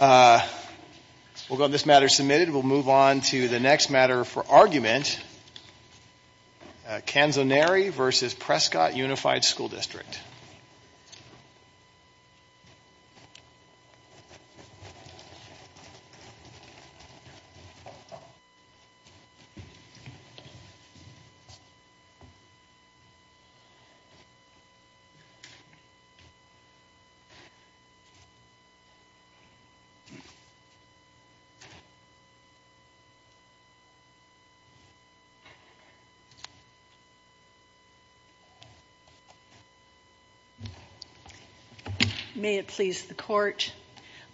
We'll go to this matter submitted. We'll move on to the next matter for argument. Canzoneri versus Prescott Unified School District. May it please the Court,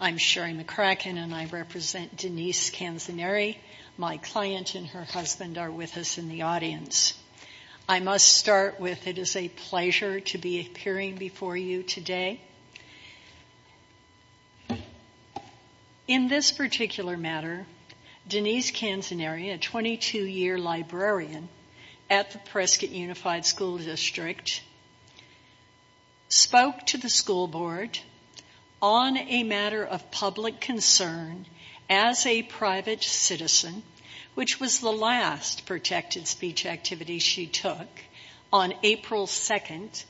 I'm Sherry McCracken and I represent Denise Canzoneri. My client and her husband are with us in the audience. I must start with it is a pleasure to be appearing before you today. In this particular matter, Denise Canzoneri, a 22-year librarian at the Prescott Unified School District, spoke to the school board on a matter of public concern as a private citizen, which was the last protected speech activity she took on April 2nd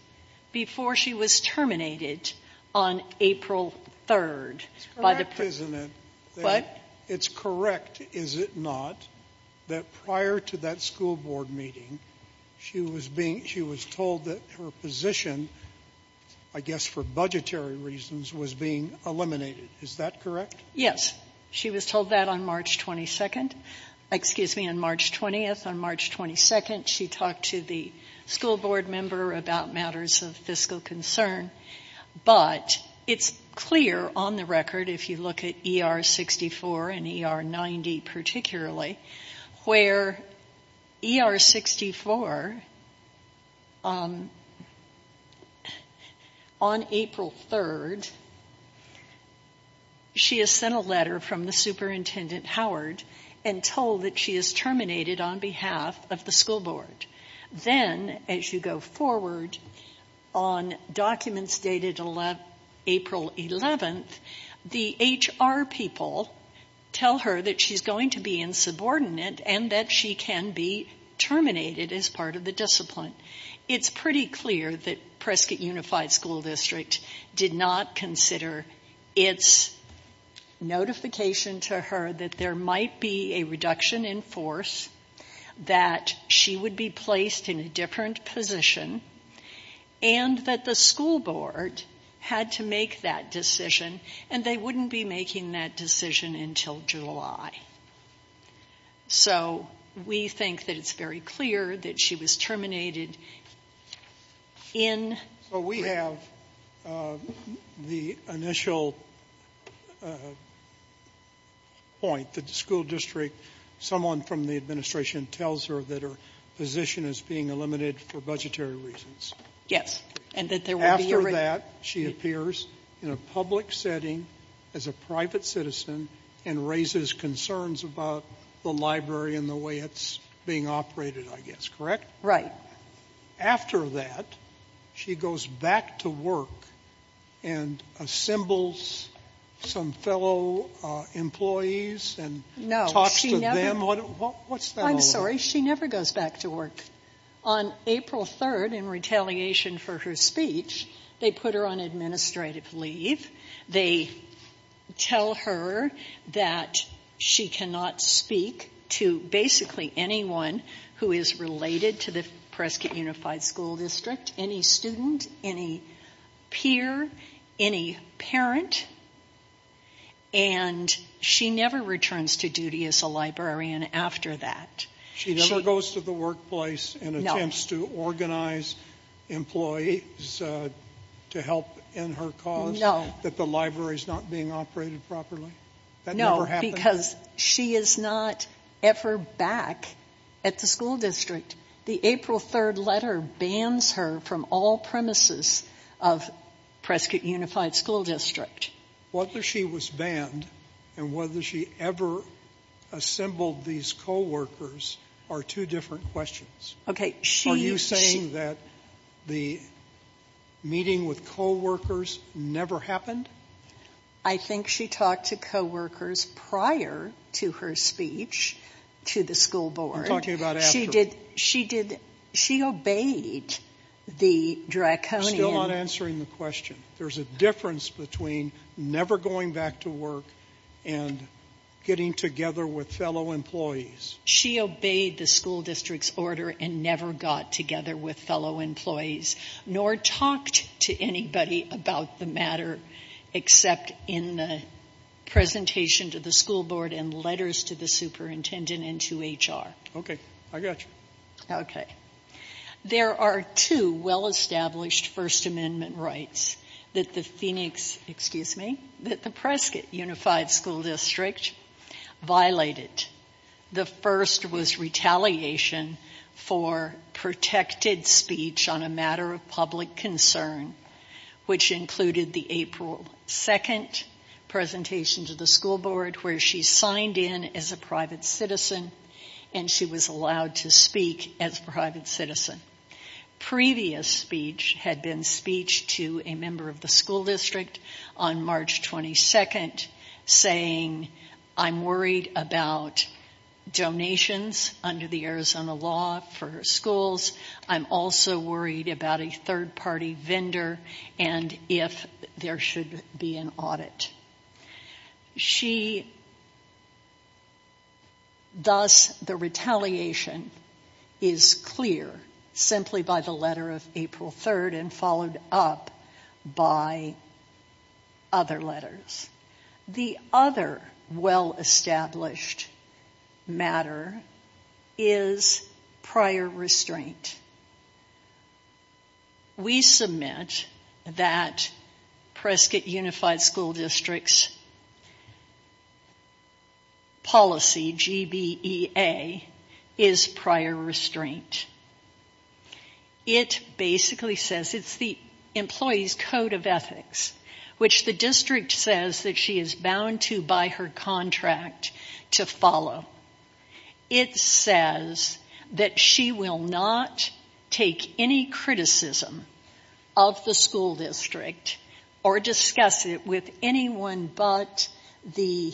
before she was terminated on April 3rd. It's correct, is it not, that prior to that school board meeting, she was being, she was told that her position, I guess for budgetary reasons, was being eliminated. Is that correct? Yes. She was told that on March 22nd, excuse me, on March 20th. On March 22nd, she talked to the school board member about matters of fiscal concern, but it's clear on the record, if you look at ER 64 and ER 90 particularly, where ER 64 on April 3rd, she has sent a letter from the superintendent, Howard, and told that she is terminated on behalf of the school board. Then, as you go forward, on documents dated April 11th, the HR people tell her that she's going to be insubordinate and that she can be terminated as part of the discipline. It's pretty clear that Prescott Unified School District did not consider its notification to her that there might be a reduction in force, that she would be placed in a different position, and that the school board had to make that decision, and they wouldn't be making that decision until July. So we think that it's very clear that she was terminated in the spring. So we have the initial point that the school district, someone from the administration tells her that her position is being eliminated for budgetary reasons. Yes, and that there will be a reduction. After that, she appears in a public setting as a private citizen and raises concerns about the library and the way it's being operated, I guess. Correct? Right. After that, she goes back to work and assembles some fellow employees and talks to them. What's that all about? She never goes back to work. On April 3rd, in retaliation for her speech, they put her on administrative leave. They tell her that she cannot speak to basically anyone who is related to the Prescott Unified School District, any student, any peer, any parent, and she never returns to duty as a librarian after that. She never goes to the workplace and attempts to organize employees to help in her cause? That the library is not being operated properly? No, because she is not ever back at the school district. The April 3rd letter bans her from all premises of Prescott Unified School District. Whether she was banned and whether she ever assembled these co-workers are two different questions. Okay, she Are you saying that the meeting with co-workers never happened? I think she talked to co-workers prior to her speech to the school board. I'm talking about after. She did, she did, she obeyed the Draconian I'm still not answering the question. There's a difference between never going back to work and getting together with fellow employees. She obeyed the school district's order and never got together with fellow employees nor talked to anybody about the matter except in the presentation to the school board and letters to the superintendent and to HR. Okay, I got you. Okay, there are two well-established First Amendment rights that the Prescott Unified School District violated. The first was retaliation for protected speech on a matter of public concern, which included the April 2nd presentation to the school board where she signed in as a private citizen and she was allowed to speak as a private citizen. Previous speech had been speech to a member of the school district on March 22nd saying I'm worried about donations under the Arizona law for schools. I'm also worried about a third-party vendor and if there should be an audit. She, thus, the retaliation is clear simply by the letter of April 3rd and followed up by other letters. The other well-established matter is prior restraint. We submit that Prescott Unified School District's policy, GBEA, is prior restraint. It basically says it's the employee's code of ethics, which the district says that she is bound to by her contract to follow. It says that she will not take any criticism of the school district or discuss it with anyone but the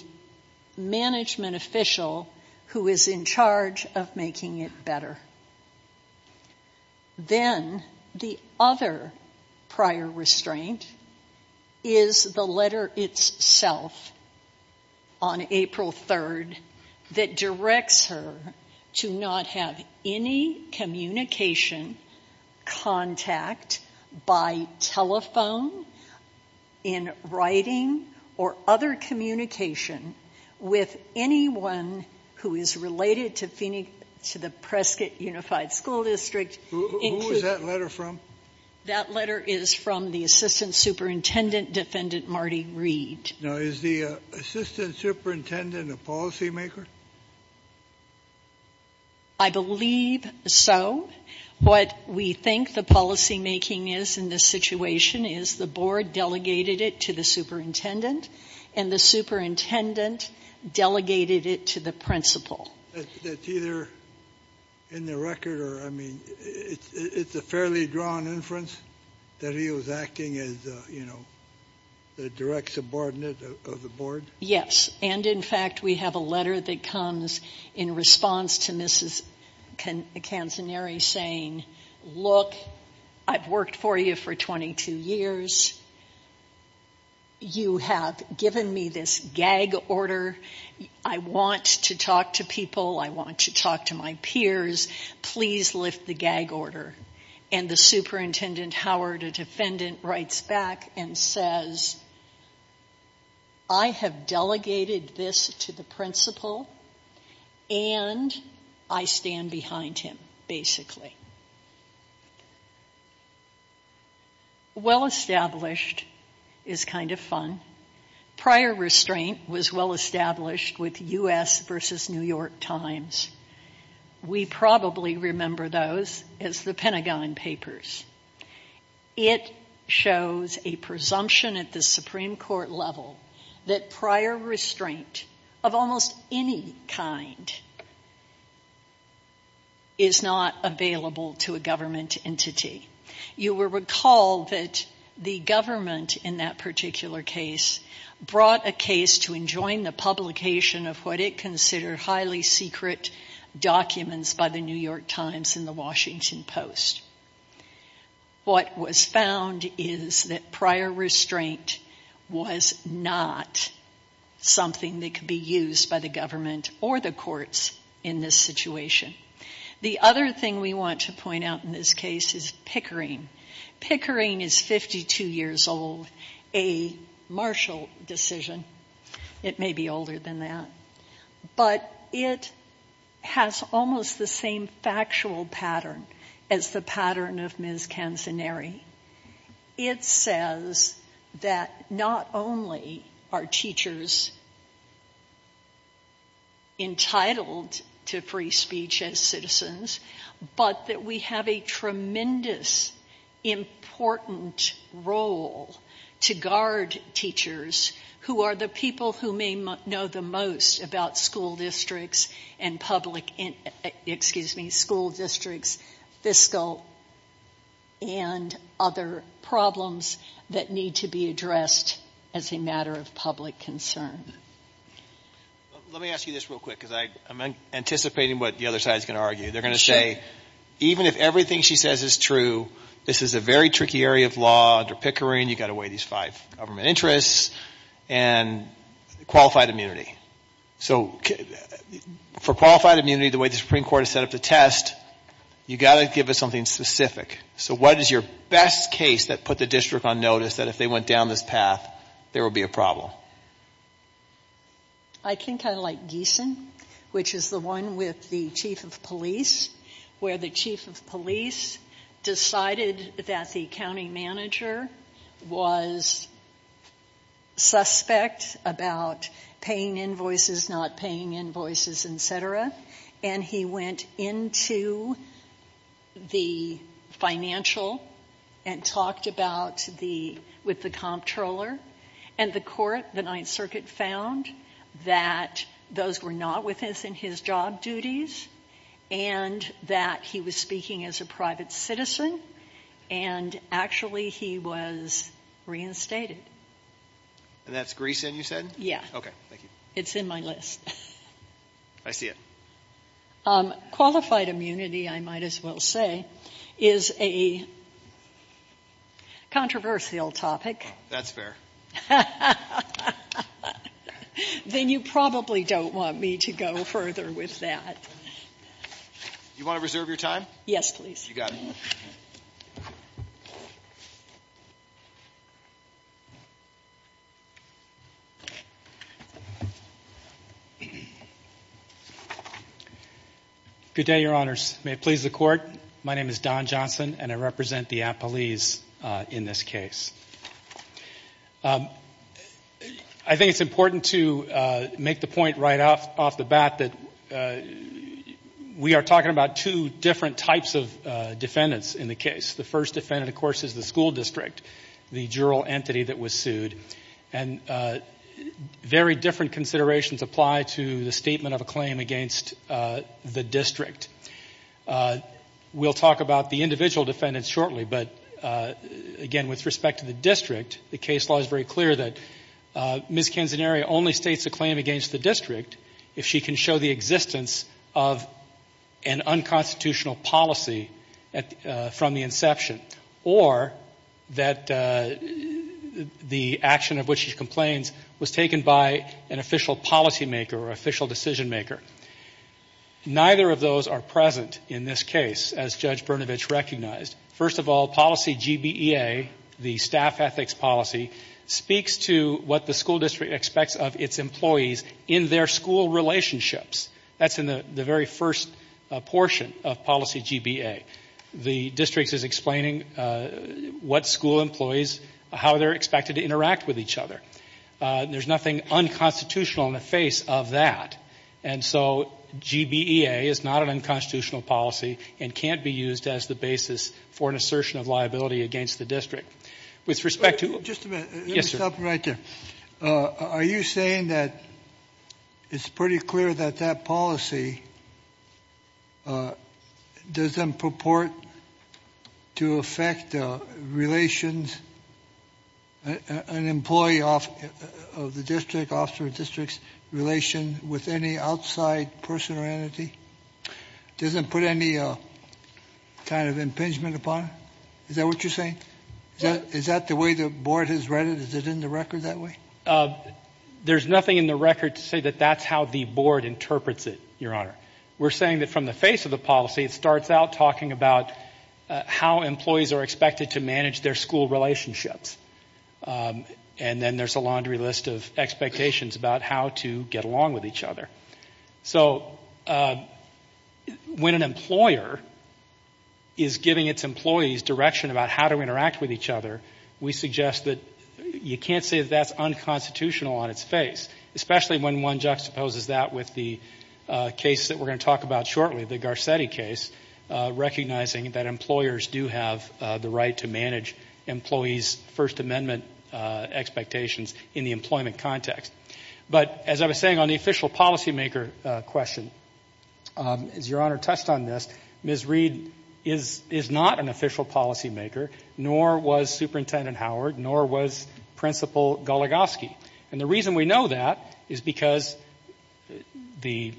management official who is in charge of making it better. Then, the other prior restraint is the letter itself on April 3rd that directs her to not have any communication contact by telephone, in writing, or other communication with anyone who is related to the Prescott Unified School District. Who is that letter from? That letter is from the assistant superintendent, Defendant Marty Reed. Is the assistant superintendent a policymaker? I believe so. What we think the policymaking is in this situation is the board delegated it to the principal. That's either in the record or, I mean, it's a fairly drawn inference that he was acting as the direct subordinate of the board? Yes. And, in fact, we have a letter that comes in response to Mrs. Canzanieri saying, look, I've worked for you for 22 years. You have given me this gag order. I want to talk to people. I want to talk to my peers. Please lift the gag order. And the superintendent, Howard, a defendant, writes back and says, I have delegated this to the principal and I stand behind him, basically. Well established is kind of fun. Prior restraint was well established with U.S. versus New York Times. We probably remember those as the Pentagon Papers. It shows a presumption at the Supreme Court level that prior restraint of almost any kind is not available to a government entity. You will recall that the government in that particular case brought a case to enjoin the publication of what it considered highly secret documents by the New York Times and the Washington Post. What was found is that prior restraint was not something that could be used by the government or the courts in this situation. The other thing we want to point out in this case is Pickering. Pickering is 52 years old, a Marshall decision. It may be older than that. But it has almost the same factual pattern as the pattern of Ms. Cancenari. It says that not only are teachers entitled to free speech as citizens, but that we have a tremendous important role to guard teachers who are the people who may know the most about school districts, fiscal, and other problems that need to be addressed as a matter of public concern. Let me ask you this real quick because I'm anticipating what the other side is going to argue. They're going to say, even if everything she says is true, this is a very tricky area of law under Pickering. You've got to weigh these five government interests and qualified immunity. So for qualified immunity, the way the Supreme Court has set up the test, you've got to give us something specific. So what is your best case that put the district on notice that if they went down this path, there would be a problem? I think I like Geeson, which is the one with the chief of police, where the chief of police decided that the accounting manager was suspect about paying invoices, not paying invoices, etc., and he went into the financial and talked with the comptroller, and the court, the Ninth Circuit, found that those were not within his job duties and that he was speaking as a private citizen, and actually he was reinstated. And that's Greeson you said? Yeah. Okay. Thank you. It's in my list. I see it. Qualified immunity, I might as well say, is a controversial topic. That's fair. Then you probably don't want me to go further with that. Do you want to reserve your time? Yes, please. You got it. Good day, Your Honors. May it please the Court. My name is Don Johnson, and I represent the appellees in this case. I think it's important to make the point right off the bat that we are talking about two different types of defendants in the case. The first defendant, of course, is the school district, the juror entity that was sued, and very different considerations apply to the statement of a claim against the district. We'll talk about the individual defendants shortly, but again, with respect to the district, the case law is very clear that Ms. Canzanaria only states a claim against the district if she can show the existence of an unconstitutional policy from the inception, or that the action of which she complains was taken by an official policymaker or official decision maker. Neither of those are present in this case, as Judge Brnovich recognized. First of all, policy GBEA, the staff ethics policy, speaks to what the school district expects of its employees in their school relationships. That's in the very first portion of policy GBEA. The district is explaining what school employees, how they're expected to interact with each other. There's nothing unconstitutional in the face of that, and so GBEA is not an unconstitutional policy and can't be used as the basis for an assertion of liability against the district. With respect to- Just a minute. Yes, sir. Let me stop you right there. Are you saying that it's pretty clear that that policy doesn't purport to affect relations, an employee of the district, officer of the district's relation with any outside person or entity? Doesn't put any kind of impingement upon it? Is that what you're saying? Is that the way the board has read it? Is it in the record that way? There's nothing in the record to say that that's how the board interprets it, your honor. We're saying that from the face of the policy, it starts out talking about how employees are expected to manage their school relationships, and then there's a laundry list of expectations about how to get along with each other. So when an employer is giving its employees direction about how to interact with each other, we suggest that you can't say that that's unconstitutional on its face, especially when one juxtaposes that with the case that we're going to talk about shortly, the Garcetti case, recognizing that employers do have the right to manage employees' First Amendment expectations in the employment context. But as I was saying on the official policymaker question, as your honor touched on this, Ms. Reed is not an official policymaker, nor was Superintendent Howard, nor was Principal Goligoski. And the reason we know that is because the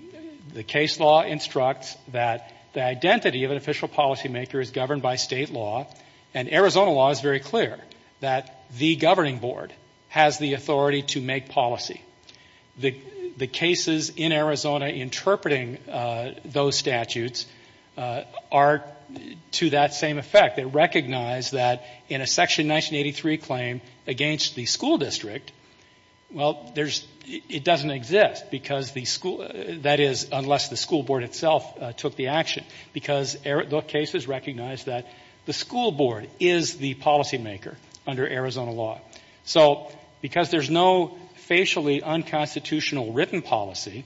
case law instructs that the identity of an official policymaker is governed by state law, and Arizona law is very clear that the governing board has the authority to make policy. The cases in Arizona interpreting those statutes are to that same effect. They recognize that in a Section 1983 claim against the school district, well, there's, it doesn't exist because the school, that is, unless the school board itself took the action, because the case is recognized that the school board is the policymaker under Arizona law. So because there's no facially unconstitutional written policy,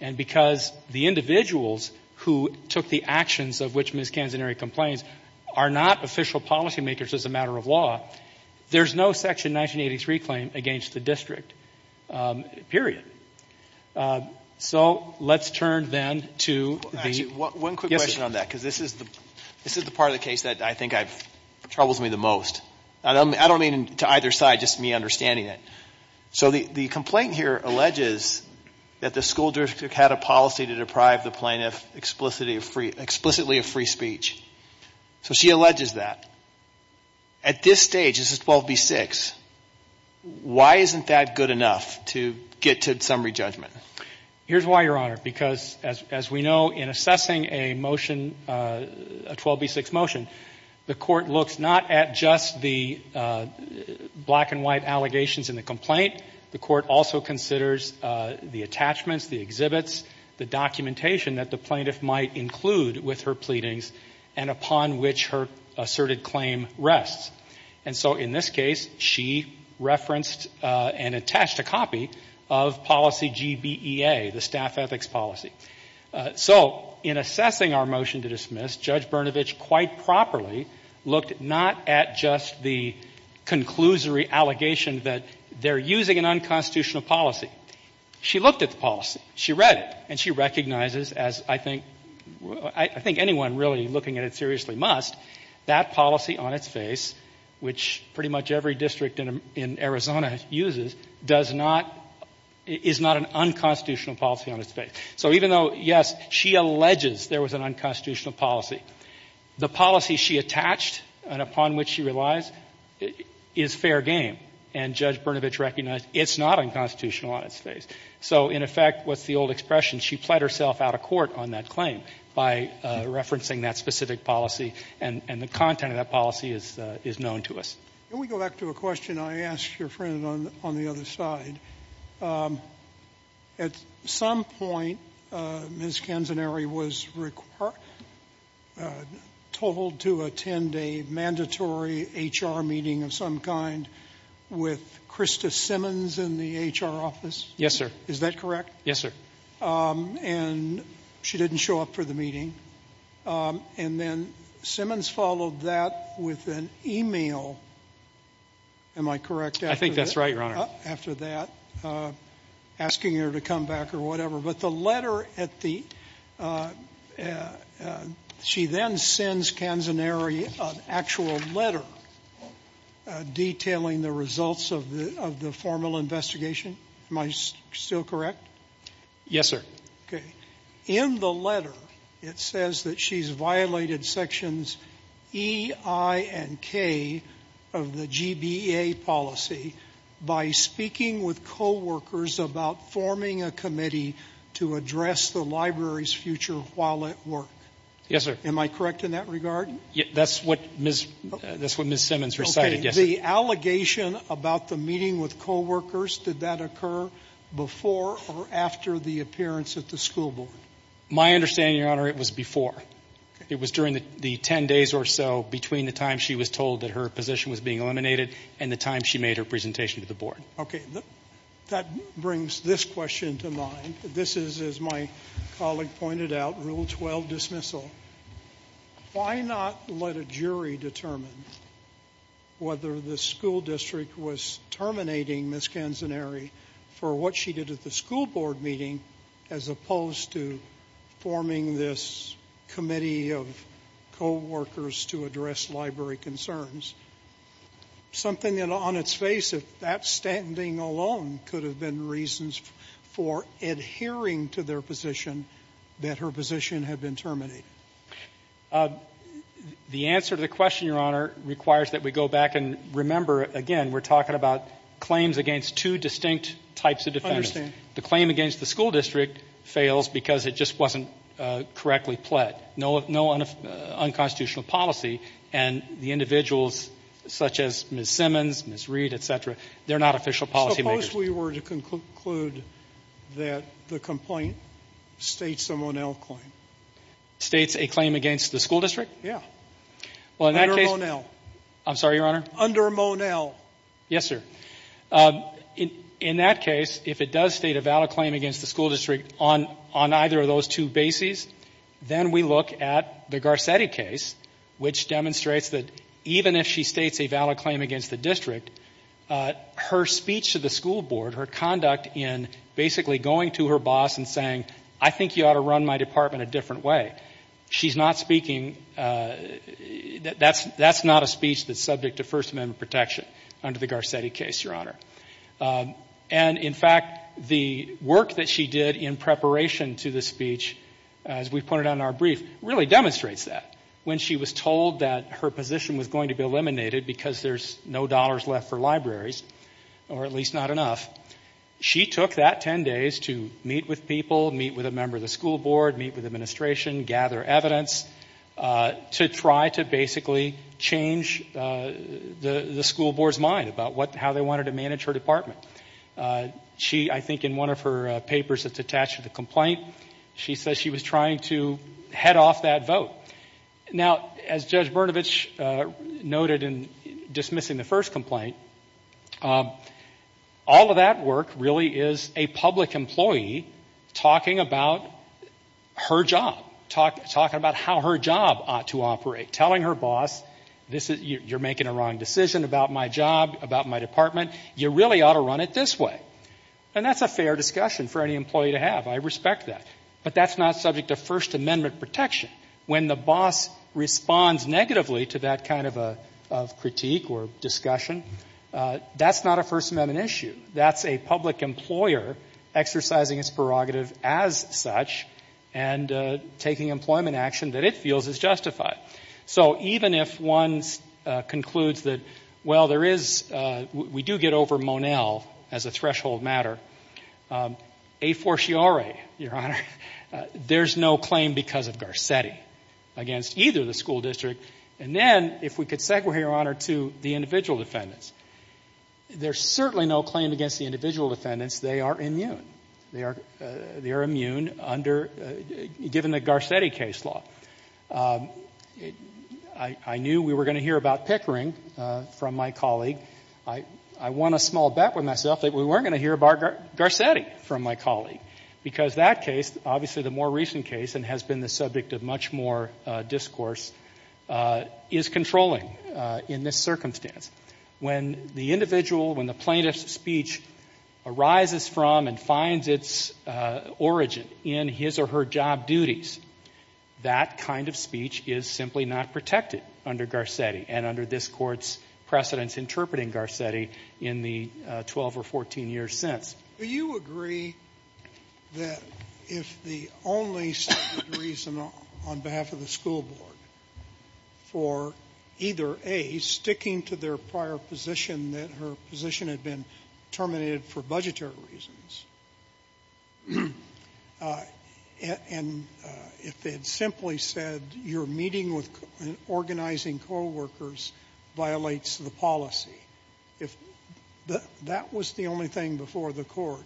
and because the individuals who took the actions of which Ms. Canzanieri complains are not official policymakers as a matter of law, there's no Section 1983 claim against the district, period. So let's turn then to the- One quick question on that, because this is the part of the case that I think troubles me the most. I don't mean to either side, just me understanding it. So the complaint here alleges that the school district had a policy to deprive the plaintiff explicitly of free speech. So she alleges that. At this stage, this is 12B6, why isn't that good enough to get to summary judgment? Here's why, Your Honor, because as we know, in assessing a motion, a 12B6 motion, the court looks not at just the black and white allegations in the complaint. The court also considers the attachments, the exhibits, the documentation that the plaintiff might include with her pleadings, and upon which her asserted claim rests. And so in this case, she referenced and attached a copy of policy GBEA, the staff ethics policy. So in assessing our motion to dismiss, Judge Brnovich quite properly looked not at just the conclusory allegation that they're using an unconstitutional policy. She looked at the policy. She read it, and she recognizes, as I think anyone really looking at it seriously must, that policy on its face, which pretty much every district in Arizona uses, does not, is not an unconstitutional policy on its face. So even though, yes, she alleges there was an unconstitutional policy, the policy she attached and upon which she relies is fair game. And Judge Brnovich recognized it's not unconstitutional on its face. So in effect, with the old expression, she pled herself out of court on that claim by referencing that specific policy. And the content of that policy is known to us. Can we go back to a question I asked your friend on the other side? At some point, Ms. Canzanieri was told to attend a mandatory HR meeting of some kind with Krista Simmons in the HR office. Yes, sir. Is that correct? Yes, sir. And she didn't show up for the meeting. And then Simmons followed that with an email, am I correct? I think that's right, Your Honor. After that, asking her to come back or whatever. But the letter at the, she then sends Canzanieri an actual letter detailing the results of the formal investigation, am I still correct? Yes, sir. Okay. In the letter, it says that she's violated sections E, I, and K of the GBEA policy by speaking with coworkers about forming a committee to address the library's future while at work. Yes, sir. Am I correct in that regard? That's what Ms. Simmons recited, yes, sir. The allegation about the meeting with coworkers, did that occur before or after the appearance at the school board? My understanding, Your Honor, it was before. It was during the 10 days or so between the time she was told that her position was being eliminated and the time she made her presentation to the board. Okay. That brings this question to mind. This is, as my colleague pointed out, Rule 12 dismissal. Why not let a jury determine whether the school district was terminating Ms. Canzanieri for what she did at the school board meeting as opposed to forming this committee of coworkers to address library concerns? Something that on its face, if that standing alone could have been reasons for adhering to their position, that her position had been terminated. The answer to the question, Your Honor, requires that we go back and remember, again, we're talking about claims against two distinct types of defendants. I understand. The claim against the school district fails because it just wasn't correctly pled, no unconstitutional policy, and the individuals such as Ms. Simmons, Ms. Reed, etc., they're not official policy makers. Suppose we were to conclude that the complaint states a Monell claim. States a claim against the school district? Yeah. Under Monell. I'm sorry, Your Honor? Under Monell. Yes, sir. In that case, if it does state a valid claim against the school district on either of those two bases, then we look at the Garcetti case, which demonstrates that even if she states a valid claim against the district, her speech to the school board, her conduct in basically going to her boss and saying, I think you ought to run my department a different way. She's not speaking, that's not a speech that's subject to First Amendment protection under the Garcetti case, Your Honor. And, in fact, the work that she did in preparation to the speech, as we've pointed out in our brief, really demonstrates that. When she was told that her position was going to be eliminated because there's no dollars left for libraries, or at least not enough, she took that 10 days to meet with people, meet with a member of the school board, meet with administration, gather evidence, to try to basically change the school board's mind about how they wanted to manage her department. She, I think in one of her papers that's attached to the complaint, she says she was trying to head off that vote. Now, as Judge Brnovich noted in dismissing the first complaint, all of that work really is a public employee talking about her job, talking about how her job ought to operate, telling her boss, you're making a wrong decision about my job, about my department, you really ought to run it this way. And that's a fair discussion for any employee to have, I respect that. But that's not subject to First Amendment protection. When the boss responds negatively to that kind of critique or discussion, that's not a First Amendment issue. That's a public employer exercising its prerogative as such and taking employment action that it feels is justified. So even if one concludes that, well, there is, we do get over Monell as a threshold matter, a fortiori, Your Honor, there's no claim because of Garcetti against either the school district. And then if we could segue, Your Honor, to the individual defendants, there's certainly no claim against the individual defendants. They are immune. They are immune under, given the Garcetti case law. I knew we were going to hear about Pickering from my colleague. I won a small bet with myself that we weren't going to hear about Garcetti from my colleague because that case, obviously the more recent case, and has been the subject of much more discourse, is controlling in this circumstance. When the individual, when the plaintiff's speech arises from and finds its origin in his or her job duties, that kind of speech is simply not protected under Garcetti and under this court's precedence interpreting Garcetti in the 12 or 14 years since. Do you agree that if the only stated reason on behalf of the school board for either A, sticking to their prior position that her position had been terminated for budgetary reasons, and if they had simply said, your meeting with organizing co-workers violates the policy, if that was the only thing before the court,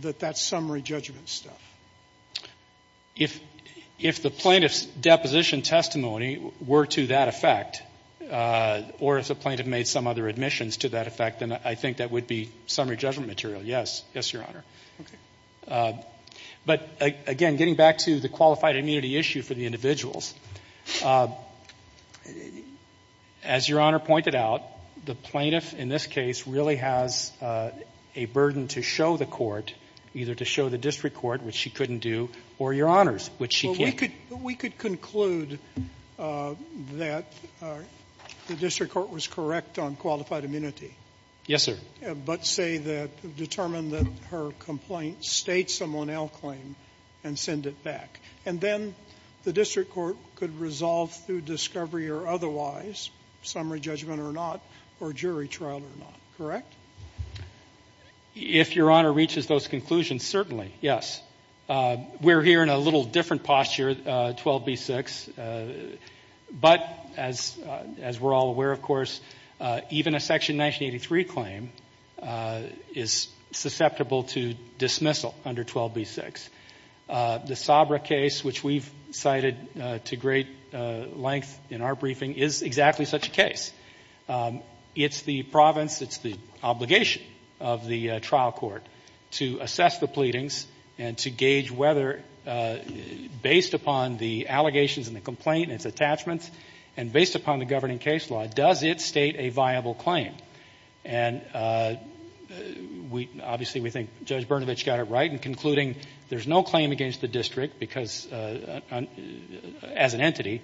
that that's summary judgment stuff? If the plaintiff's deposition testimony were to that effect, or if the plaintiff made some other admissions to that effect, then I think that would be summary judgment material. Yes. Yes, Your Honor. But again, getting back to the qualified immunity issue for the individuals, as Your Honor pointed out, the plaintiff in this case really has a burden to show the court, either to show the district court, which she couldn't do, or Your Honors, which she can. We could conclude that the district court was correct on qualified immunity. Yes, sir. But say that, determine that her complaint states someone else's claim and send it back. And then the district court could resolve through discovery or otherwise, summary judgment or not, or jury trial or not, correct? If Your Honor reaches those conclusions, certainly, yes. We're here in a little different posture, 12b-6. But as we're all aware, of course, even a Section 1983 claim is susceptible to dismissal under 12b-6. The Sabra case, which we've cited to great length in our briefing, is exactly such a case. It's the province, it's the obligation of the trial court to assess the pleadings and to gauge whether, based upon the allegations and the complaint and its attachments, and based upon the governing case law, does it state a viable claim. And obviously, we think Judge Brnovich got it right in concluding there's no claim against the district because, as an entity,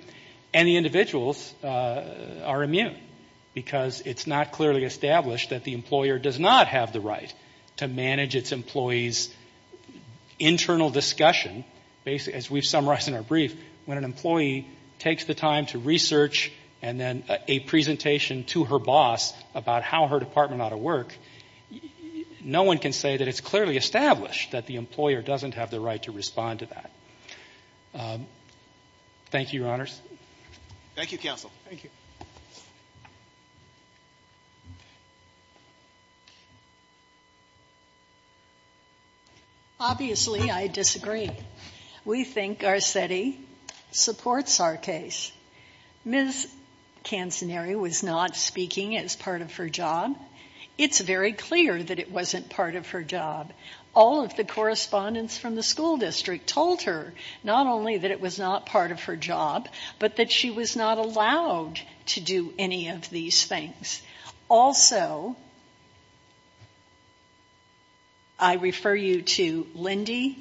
and the individuals are immune because it's not clearly established that the employer does not have the right to manage its employees' internal discussion. Basically, as we've summarized in our brief, when an employee takes the time to research and then a presentation to her boss about how her department ought to work, no one can say that it's clearly established that the employer doesn't have the right to respond to that. Thank you, Your Honors. Thank you, Counsel. Thank you. Obviously, I disagree. We think Garcetti supports our case. Ms. Cancenari was not speaking as part of her job. It's very clear that it wasn't part of her job. All of the correspondents from the school district told her not only that it was not part of her job, but that she was not allowed to do any of these things. Also, I refer you to Lindy,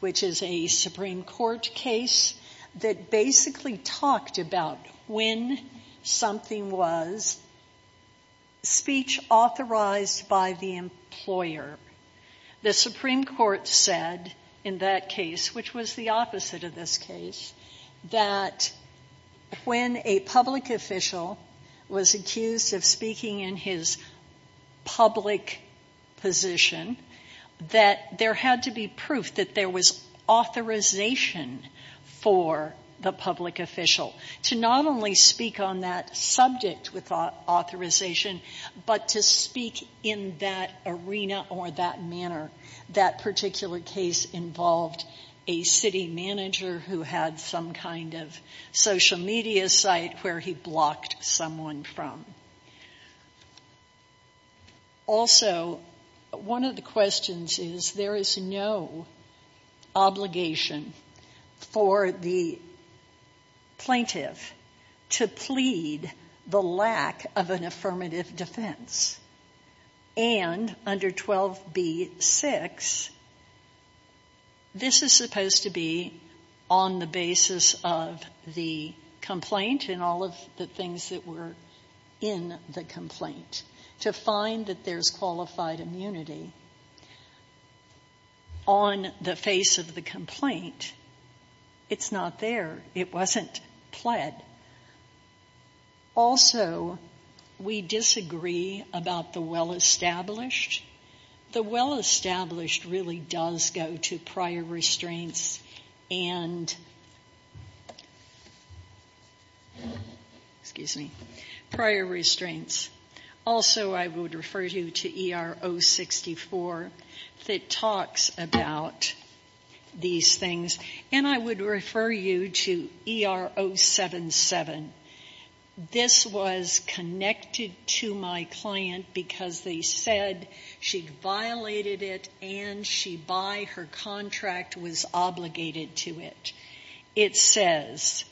which is a Supreme Court case that basically talked about when something was speech authorized by the employer. The Supreme Court said in that case, which was the opposite of this case, that when a public official was accused of speaking in his public position, that there had to be proof that there was authorization for the public official to not only speak on that subject with authorization, but to speak in that arena or that manner. That particular case involved a city manager who had some kind of social media site where he blocked someone from. Also, one of the questions is there is no obligation for the plaintiff to plead the lack of an affirmative defense. And under 12b-6, this is supposed to be on the basis of the complaint and all of the things that were in the complaint. To find that there's qualified immunity on the face of the complaint, it's not there. It wasn't pled. Also, we disagree about the well-established. The well-established really does go to prior restraints and prior restraints. Also, I would refer you to ER-064 that talks about these things. And I would refer you to ER-077. This was connected to my client because they said she'd violated it and she, by her contract, was obligated to it. It says,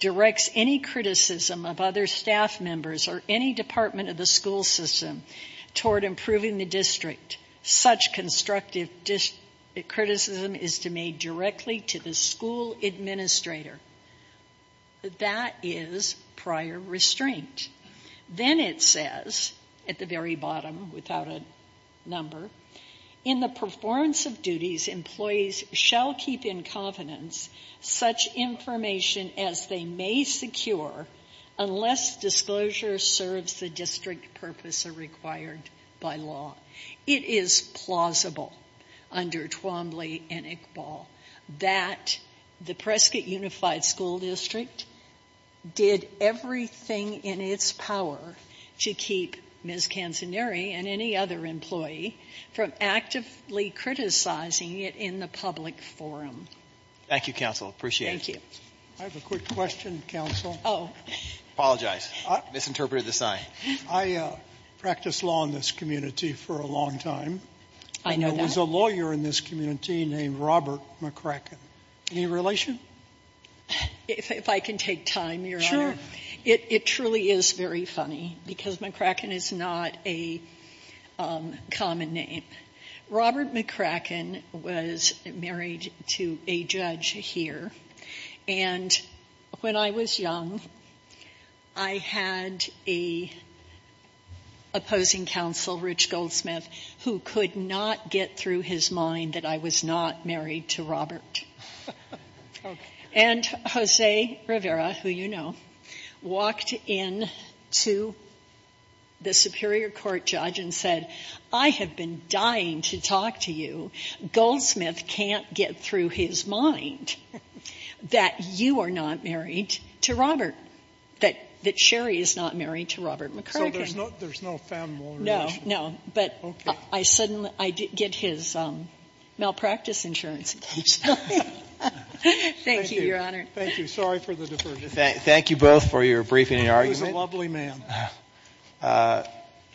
directs any criticism of other staff members or any department of the school system toward improving the district. Such constructive criticism is to made directly to the school administrator. That is prior restraint. Then it says, at the very bottom, without a number, in the performance of duties, employees shall keep in confidence such information as they may secure unless disclosure serves the district purpose or required by law. It is plausible under Twombly and Iqbal that the Prescott Unified School District did everything in its power to keep Ms. Canzanieri and any other employee from actively criticizing it in the public forum. Thank you, counsel. Appreciate it. I have a quick question, counsel. Apologize. Misinterpreted the sign. I practiced law in this community for a long time. I know that. There's a lawyer in this community named Robert McCracken. Any relation? If I can take time, Your Honor. It truly is very funny because McCracken is not a common name. Robert McCracken was married to a judge here. And when I was young, I had a opposing counsel, Rich Goldsmith, who could not get through his mind that I was not married to Robert. And Jose Rivera, who you know, walked into the Superior Court judge and said, I have been dying to talk to you. Goldsmith can't get through his mind that you are not married to Robert, that Sherry is not married to Robert McCracken. So there's no family relationship? No, no. But I suddenly get his malpractice insurance. Thank you, Your Honor. Thank you. Sorry for the diversion. Thank you both for your briefing and argument. He was a lovely man.